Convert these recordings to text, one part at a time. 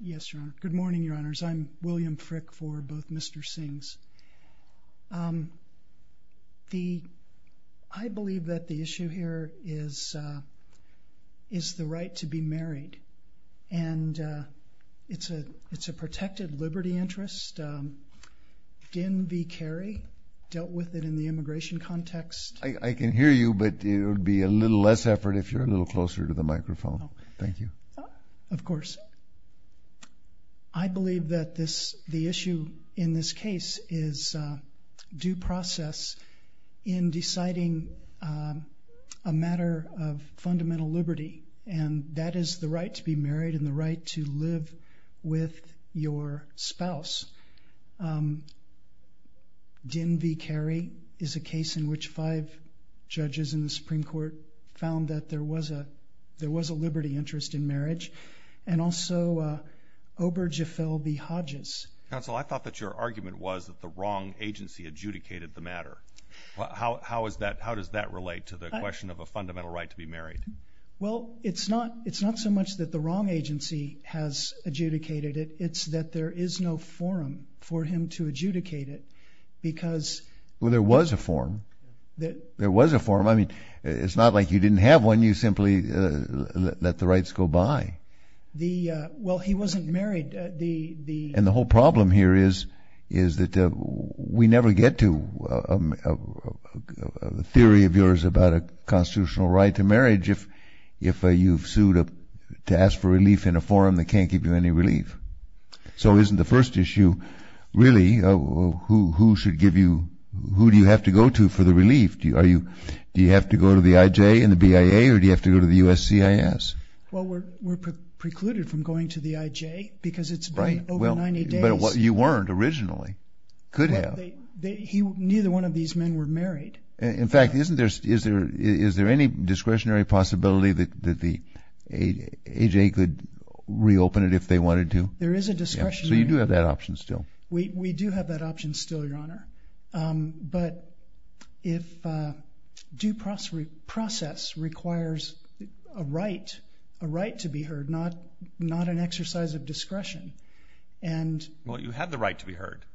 Yes, Your Honor. Good morning, Your Honors. I'm William Frick for both Mr. Sings. The, I believe that the issue here is, is the right to be married and it's a, it's a protected liberty interest. Gin v. Kerry dealt with it in the immigration context. I can hear you, but it would be a little less effort if you're a little closer to the microphone. Thank you. Of course. I believe that this, the issue in this case is due process in deciding a matter of fundamental liberty and that is the right to be married and the right to live with your spouse. Gin v. Kerry is a case in which five judges in the Supreme Court found that there was a, there was a liberty interest in marriage and also Obergefell v. Hodges. Counsel, I thought that your argument was that the wrong agency adjudicated the matter. How, how is that, how does that relate to the question of a fundamental right to be married? Well, it's not, it's not so much that the wrong agency has adjudicated it. It's that there is no forum for him to adjudicate it because... Well, there was a forum. There was a forum. I mean, it's not like you didn't have one. You simply let the rights go by. The, well, he wasn't married. The, the... And the whole problem here is, is that we never get to a theory of yours about a constitutional right to marriage if, if you've sued a, to ask for relief in a forum that can't give you any relief. So isn't the first issue, really, who, who should give you, who do you have to go to for the relief? Do you, are you, do you have to go to the IJ and the BIA or do you have to go to the USCIS? Well, we're, we're precluded from going to the IJ because it's been over 90 days. Right, well, but you weren't originally, could have. He, neither one of these men were married. In fact, isn't there, is there, is there any discretionary possibility that, that the AJ could reopen it if they wanted to? There is a discretionary... So you do have that option still? We, we do have that option still, Your Honor. But if due process requires a right, a right to be heard, not, not an exercise of discretion and... Well, you have the right to be heard.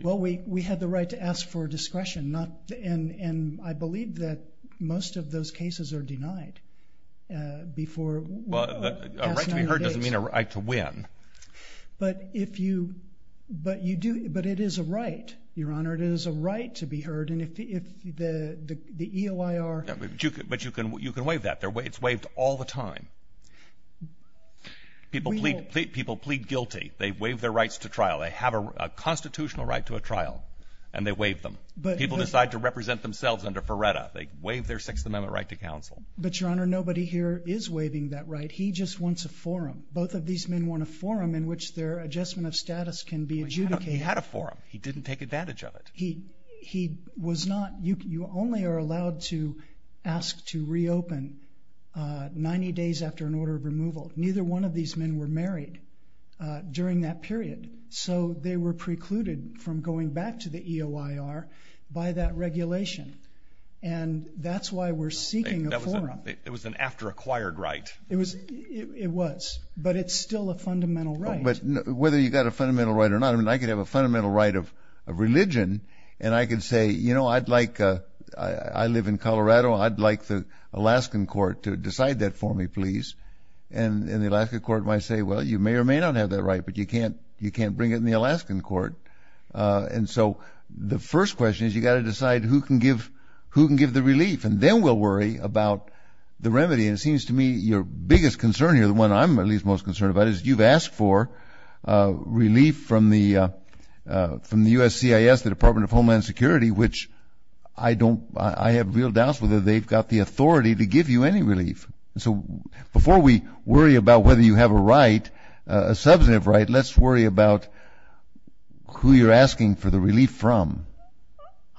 Well, we, we had the right to ask for discretion, not, and, and I believe that most of those cases are denied before, past 90 days. Well, a right to be heard doesn't mean a right to win. But if you, but you do, but it is a right, Your Honor. It is a right to be heard and if the, if the, the EOIR... Yeah, but you can, but you can, you can waive that. They're waived, it's waived all the time. People plead, people plead guilty. They waive their rights to trial. They have a constitutional right to a trial and they waive them. But people decide to represent themselves under FREDA. They waive their Sixth Amendment right to counsel. But, Your Honor, nobody here is waiving that right. He just wants a forum. Both of these men want a forum in which their adjustment of status can be adjudicated. He had a forum. He didn't take advantage of it. He, he was not, you, you only are allowed to ask to reopen 90 days after an order of removal. Neither one of these men were married during that period. So they were precluded from going back to the EOIR by that regulation and that's why we're seeking a forum. It was an after-acquired right. It was, it was, but it's still a fundamental right. But whether you got a fundamental right or not, I mean, I could have a fundamental right of religion and I could say, you know, I'd like, I live in Colorado. I'd like the Alaskan court to decide that for me, please. And the Alaskan court might say, well, you may or may not have that right, but you can't, you can't bring it in the Alaskan court. And so the first question is you got to decide who can give, who can give the relief, and then we'll worry about the remedy. And it seems to me your biggest concern here, the one I'm at least most concerned about, is you've asked for relief from the, from the USCIS, the Department of Homeland Security, which I don't, I have real doubts whether they've got the authority to give you any relief. So before we worry about whether you have a right, a substantive right, let's worry about who you're asking for the relief from.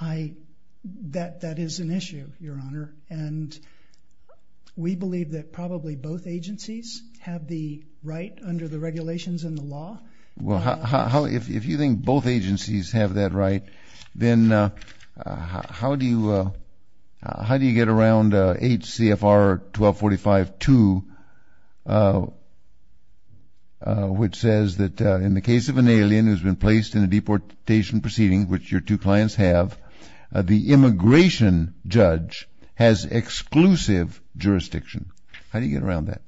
That, that is an issue, Your Honor, and we believe that probably both agencies have the right under the regulations in the law. Well, how, if you think both agencies have that right, then how do you, how do you get around H.C.F.R. 1245-2, which says that in the case of an alien who's been placed in a deportation proceeding, which your two clients have, the immigration judge has exclusive jurisdiction. How do you get around that?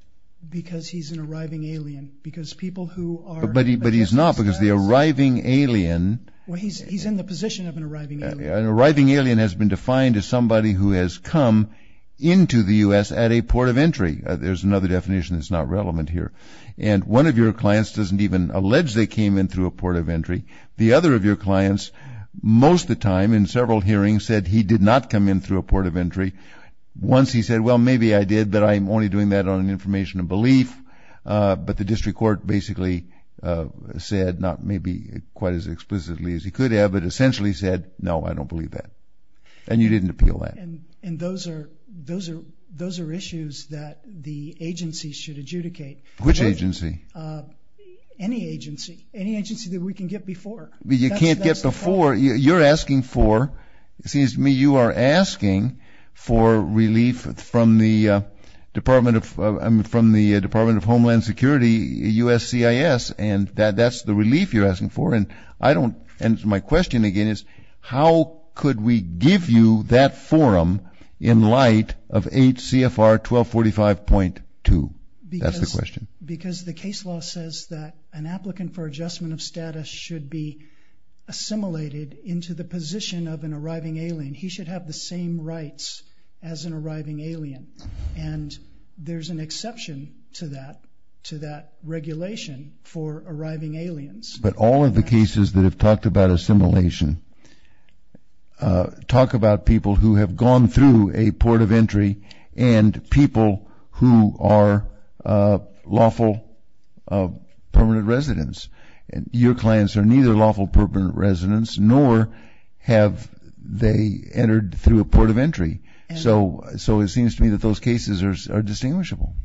Because he's an arriving alien, because people who are... But he, but he's not, because the arriving alien... Well, he's, he's in the position of an arriving alien. An arriving alien has been defined as somebody who has come into the U.S. at a port of entry. There's another definition that's not relevant here. And one of your clients doesn't even allege they came in through a port of entry. The other of your clients, most the time, in several hearings, said he did not come in through a port of entry. Once he said, well, maybe I did, but I'm only doing that on information of belief. But the district court basically said, not maybe quite as explicitly as he could have, but essentially said, no, I don't believe that. And you didn't appeal that. And, and those are, those are, those are issues that the agency should adjudicate. Which agency? Any agency. Any agency that we can get before. You can't get before. You're asking for, it seems to me, you are asking for relief from the Department of, I mean, from the Department of Homeland Security, USCIS, and that, that's the relief you're asking for. And I don't, and my question again is, how could we give you that forum in light of HCFR 1245.2? That's the question. Because, because the case law says that an applicant for adjustment of status should be assimilated into the position of an arriving alien. He should have the same rights as an arriving alien. And there's an exception to that, to that regulation for arriving aliens. But all of the cases that have talked about assimilation, talk about people who have gone through a port of entry, and people who are lawful permanent residents. And your clients are neither lawful permanent residents, nor have they entered through a port of entry. So, so it seems to me that those cases are distinguishable.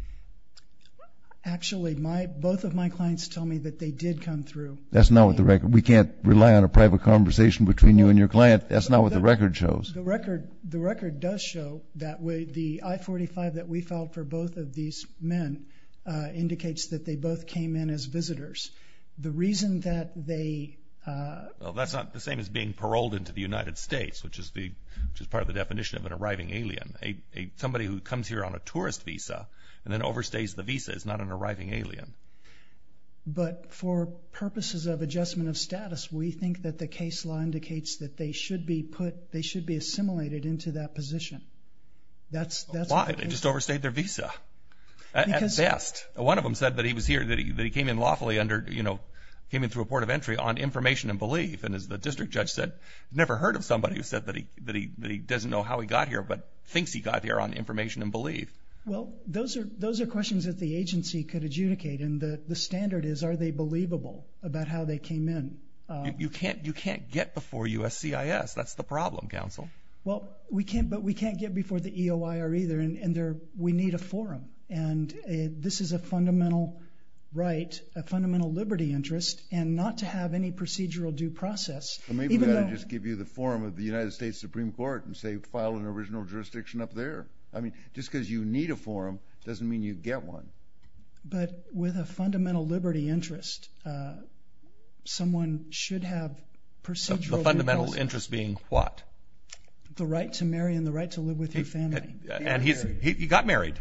Actually, my, both of my clients tell me that they did come through. That's not what the record, we can't rely on a private conversation between you and your client. That's not what the record shows. The record, the record does show that way, the I-45 that we filed for both of these men indicates that they both came in as visitors. The reason that they, that's not the same as being paroled into the United States, which is the, which is part of the definition of an arriving alien. A, a somebody who comes here on a tourist visa and then overstays the visa is not an arriving alien. But for purposes of adjustment of status, we think that the case law indicates that they should be put, they should be assimilated into that position. That's, that's why they just overstayed their visa. At best. One of them said that he was here, that he came in lawfully under, you know, came in through a port of entry on information and belief. And as the district judge said, never heard of somebody who said that he, that he, that he doesn't know how he got here, but thinks he got here on information and belief. Well, those are, those are questions that the agency could adjudicate. And the, the standard is, are they believable about how they came in? You can't, you can't get before USCIS. That's the problem, counsel. Well, we can't, but we can't get before the EOIR either. And, and there, we need a forum. And this is a fundamental right, a fundamental liberty interest, and not to have any procedural due process. Maybe we ought to just give you the forum of the United States Supreme Court and say file an original jurisdiction up there. I mean, just because you need a forum doesn't mean you get one. But with a fundamental liberty interest, someone should have procedural due process. The fundamental interest being what? The right to marry and the right to live with your family. And he's, he got married.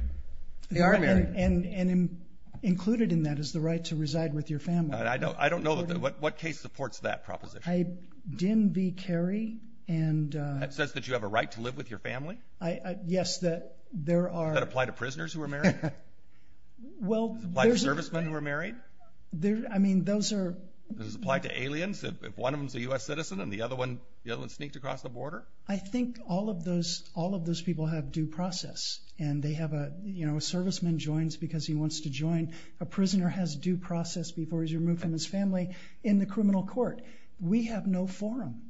He got married. And included in that is the right to reside with your family. I don't, I don't know what, what case supports that proposition. A Dim B. Carey and... That says that you have a right to live with your family? Yes, that there are... Does that apply to prisoners who are married? Well, there's... Does it apply to servicemen who are married? I mean, those are... Does it apply to aliens if one of them is a U.S. citizen and the other one, the other one sneaked across the border? I think all of those, all of those people have due process. And they have a, you know, a serviceman joins because he wants to join. A prisoner has due process before he's removed from his family in the criminal court. We have no forum.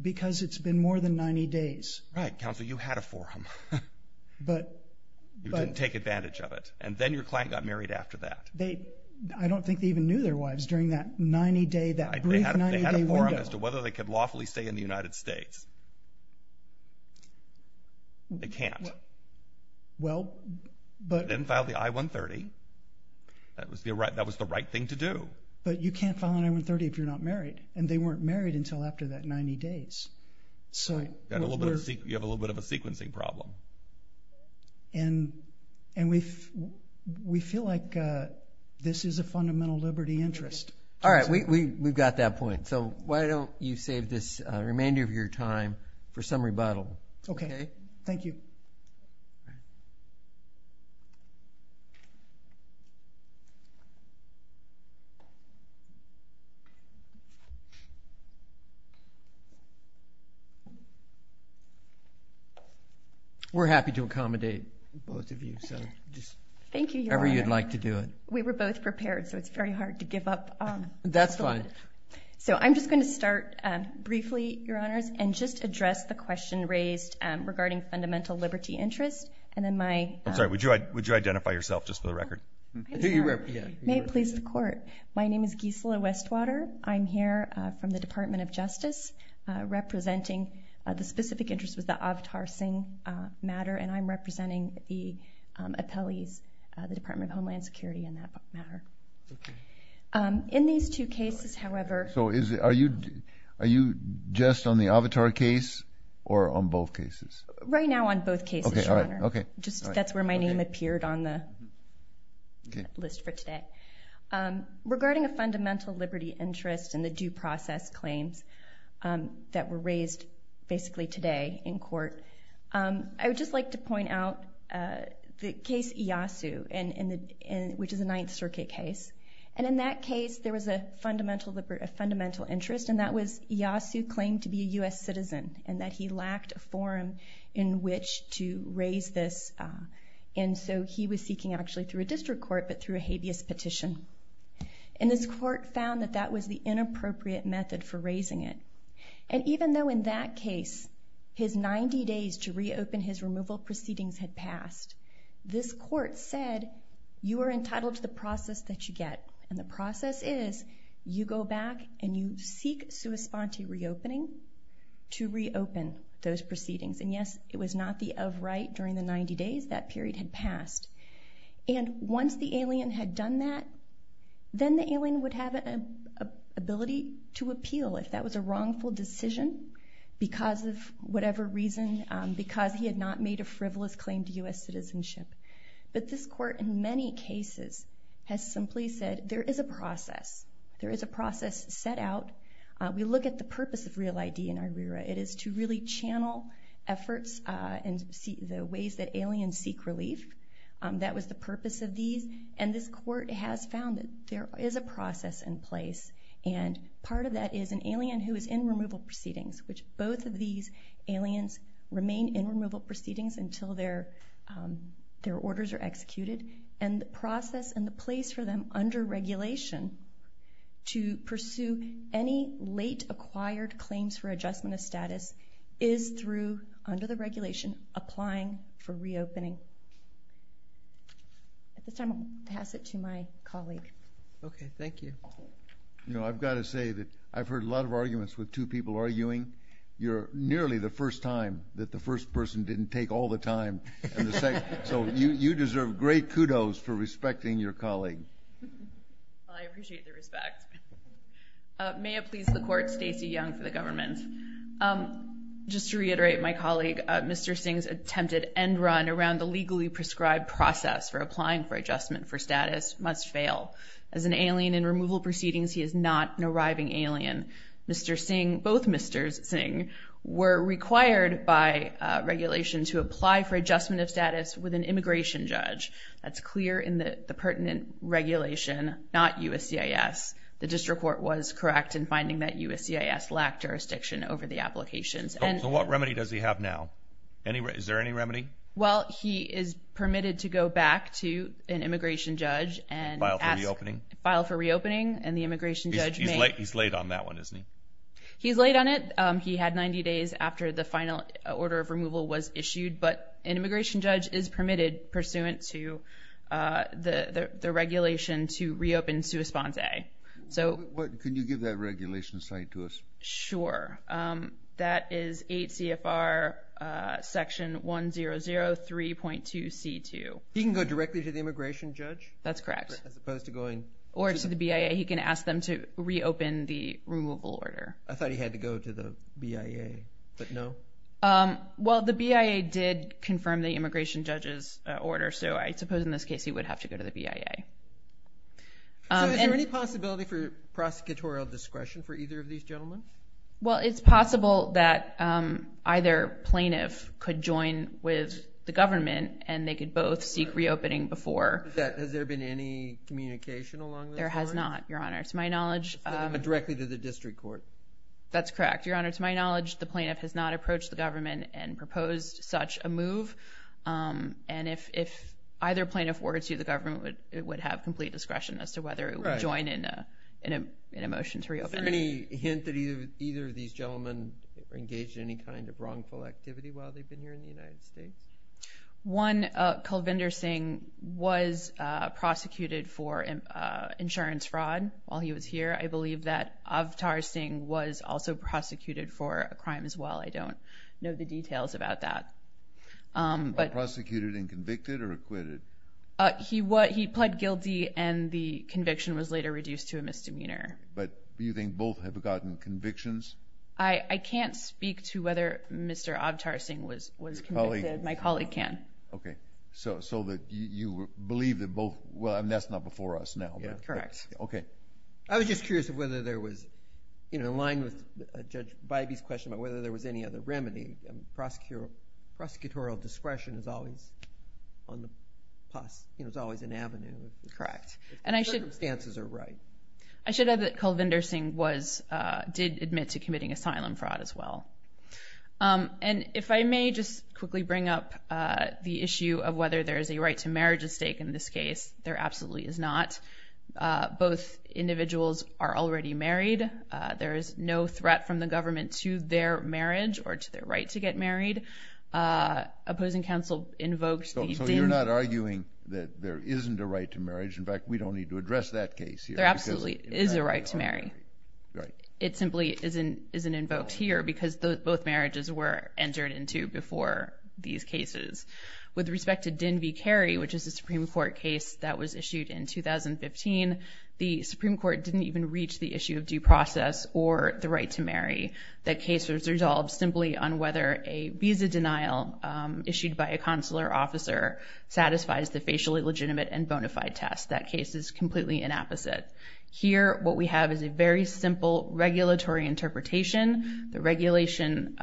Because it's been more than 90 days. Right. Counsel, you had a forum. But... You didn't take advantage of it. And then your client got married after that. They, I don't think they even knew their wives during that 90 day, that brief 90 day window. They had a forum as to whether they could lawfully stay in the United States. They can't. Well, but... They didn't file the I-130. That was the right, that was the right thing to do. But you can't file an I-130 if you're not married. And they weren't married until after that 90 days. So... You have a little bit of a sequencing problem. And we feel like this is a fundamental liberty interest. Alright, we've got that point. So why don't you save this remainder of your time for some rebuttal. Okay. Thank you. We're happy to accommodate both of you. Thank you, Your Honor. If ever you'd like to do it. We were both prepared. So it's very hard to give up. That's fine. So I'm just going to start briefly, Your Honors. And just address the question raised regarding fundamental liberty interest. And then my... I'm sorry. Would you identify yourself just for the record? My name is Gisela Westwater. I'm here from the Department of Justice. Representing... The specific interest was the Avatar Singh matter. And I'm representing the appellees. The Department of Homeland Security in that matter. Okay. In these two cases, however... So is it... Are you just on the Avatar case? Or on both cases? Right now on both cases, Your Honor. Okay. That's where my name appeared on the list for today. Regarding a fundamental liberty interest and the due process claims. That were raised basically today in court. I would just like to point out the case Iyasu. Which is the 9th Circuit case. And in that case, there was a fundamental interest. And that was Iyasu claimed to be a U.S. citizen. And that he lacked a forum in which to raise this. And so he was seeking actually through a district court but through a habeas petition. And this court found that that was the inappropriate method for raising it. And even though in that case his 90 days to reopen his removal proceedings had passed. This court said you are entitled to the process that you get. And the process is you go back and you seek sua sponte reopening to reopen those proceedings. And yes, it was not the of right during the 90 days. That period had passed. And once the alien had done that then the alien would have the ability to appeal if that was a wrongful decision because of whatever reason because he had not made a frivolous claim to U.S. citizenship. But this court in many cases has simply said there is a process. There is a process set out. We look at the purpose of REAL ID and IRERA. It is to really channel efforts and the ways that aliens seek relief. That was the purpose of these. And this court has found that there is a process in place and part of that is an alien who is in removal proceedings. Both of these aliens remain in removal proceedings until their orders are executed. And the process and the place for them under regulation to pursue any late acquired claims for adjustment of status is through under the regulation applying for reopening. At this time I will pass it to my colleague. Okay, thank you. You know, I've got to say that I've heard a lot of arguments with two people arguing. You're nearly the first time that the first person didn't take all the time. So you deserve great kudos for respecting your colleague. I appreciate the respect. May it please the court, Stacey Young for the government. Just to reiterate my colleague, Mr. Singh's attempted end run around the legally prescribed process for applying for adjustment for status must fail. As an alien in removal proceedings, he is not an arriving alien. Mr. Singh, both Mr. Singh, were required by regulation to apply for adjustment of status with an immigration judge. That's clear in the pertinent regulation, not USCIS. The district court was correct in finding that USCIS lacked jurisdiction over the applications. So what remedy does he have now? Is there any remedy? Well, he is permitted to go back to an immigration judge and file for reopening. He's late on that one, isn't he? He's late on it. He had 90 days after the final order of removal was issued, but an immigration judge is permitted pursuant to the regulation to reopen Suis Ponce. Can you give that regulation some insight to us? Sure. That is 8 CFR section 100 3.2 C2. He can go directly to the immigration judge? That's correct. Or to the BIA. He can ask them to reopen the removal order. I thought he had to go to the BIA, but no? Well, the BIA did confirm the immigration judge's order, so I suppose in this case he would have to go to the BIA. Is there any possibility for prosecutorial discretion for either of these gentlemen? Well, it's possible that either plaintiff could join with the government and they could both seek reopening before. Has there been any communication along this line? There has not, Your Honor, to my knowledge. Directly to the district court? That's correct, Your Honor. To my knowledge, the plaintiff has not approached the government and proposed such a move. And if either plaintiff were to the government, it would have complete discretion as to whether it would join in a motion to reopen. Is there any hint that either of these gentlemen engaged in any kind of wrongful activity while they've been here in the United States? One, Kalvinder Singh was prosecuted for insurance fraud while he was here. I believe that Avtar Singh was also prosecuted for a crime as well. I don't know the details about that. Prosecuted and convicted or acquitted? He pled guilty and the conviction was later reduced to a misdemeanor. But do you think both have gotten convictions? I can't speak to whether Mr. Avtar Singh was convicted. My colleague can. So you believe that both...well, that's not before us now. Correct. Okay. I was just curious whether there was, in line with Judge Bybee's question, whether there was any other remedy. Prosecutorial discretion is always on the pus. It's always an avenue. Correct. If the circumstances are right. I should add that Kalvinder Singh did admit to committing asylum fraud as well. And if I may just quickly bring up the issue of whether there is a right to marriage at stake in this case, there absolutely is not. Both individuals are already married. There is no threat from the government to their marriage or to their right to get married. Opposing counsel invoked... So you're not arguing that there isn't a right to marriage. In fact, we don't need to address that case here. There absolutely is a right to marry. It simply isn't invoked here because both marriages were entered into before these cases. With respect to Din V. Carey, which is a Supreme Court case that was issued in 2015, the Supreme Court didn't even reach the issue of due process or the right to marry. That case was resolved simply on whether a visa denial issued by a consular officer satisfies the facially legitimate and bona fide test. That case is completely inapposite. Here, what we have is a very simple regulatory interpretation. The regulation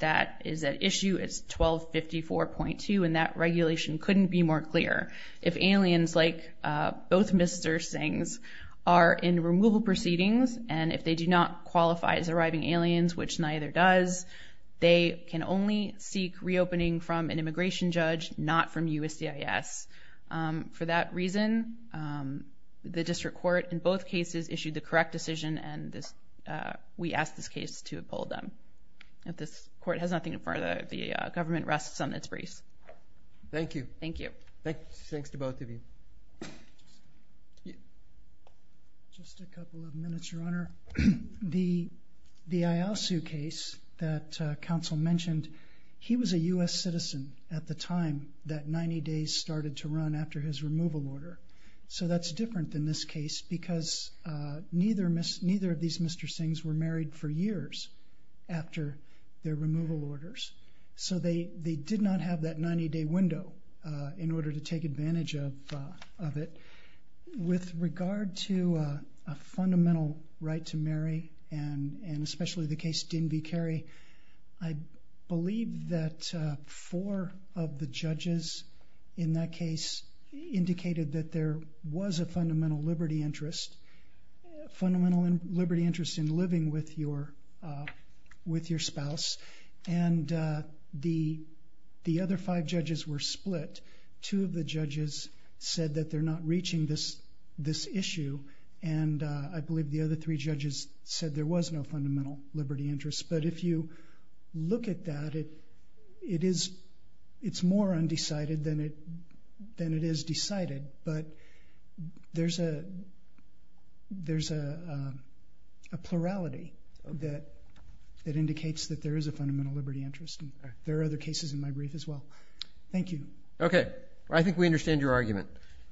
that is at issue is 1254.2, and that regulation couldn't be more clear. If aliens like both Mr. Singhs are in removal proceedings, and if they do not qualify as arriving aliens, which neither does, they can only seek reopening from an immigration judge, not from USCIS. For that reason, the district court in both cases issued the correct decision, and we ask this case to uphold them. If this court has nothing further, the government rests on its briefs. Thank you. Thanks to both of you. Just a couple of minutes, Your Honor. The Eyalsu case that counsel mentioned, he was a U.S. citizen at the time that 90 days started to run after his removal order. That's different than this case because neither of these Mr. Singhs were married for years after their removal orders, so they did not have that 90-day window in order to take advantage of it. With regard to a fundamental right to marry, and especially the case Din v. Carey, I believe that four of the judges in that case indicated that there was a fundamental liberty interest, a fundamental liberty interest in living with your spouse, and the other five judges were split. Two of the judges said that they're not reaching this issue, and I believe the other three judges said there was no fundamental liberty interest, but if you look at that, it's more undecided than it is decided, but there's a plurality that indicates that there is a fundamental liberty interest. There are other cases in my brief as well. Thank you. I think we understand your argument.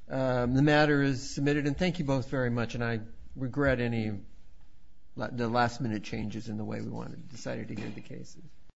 The matter is submitted, and thank you both very much, and I regret any last-minute changes in the way we decided to hear the case.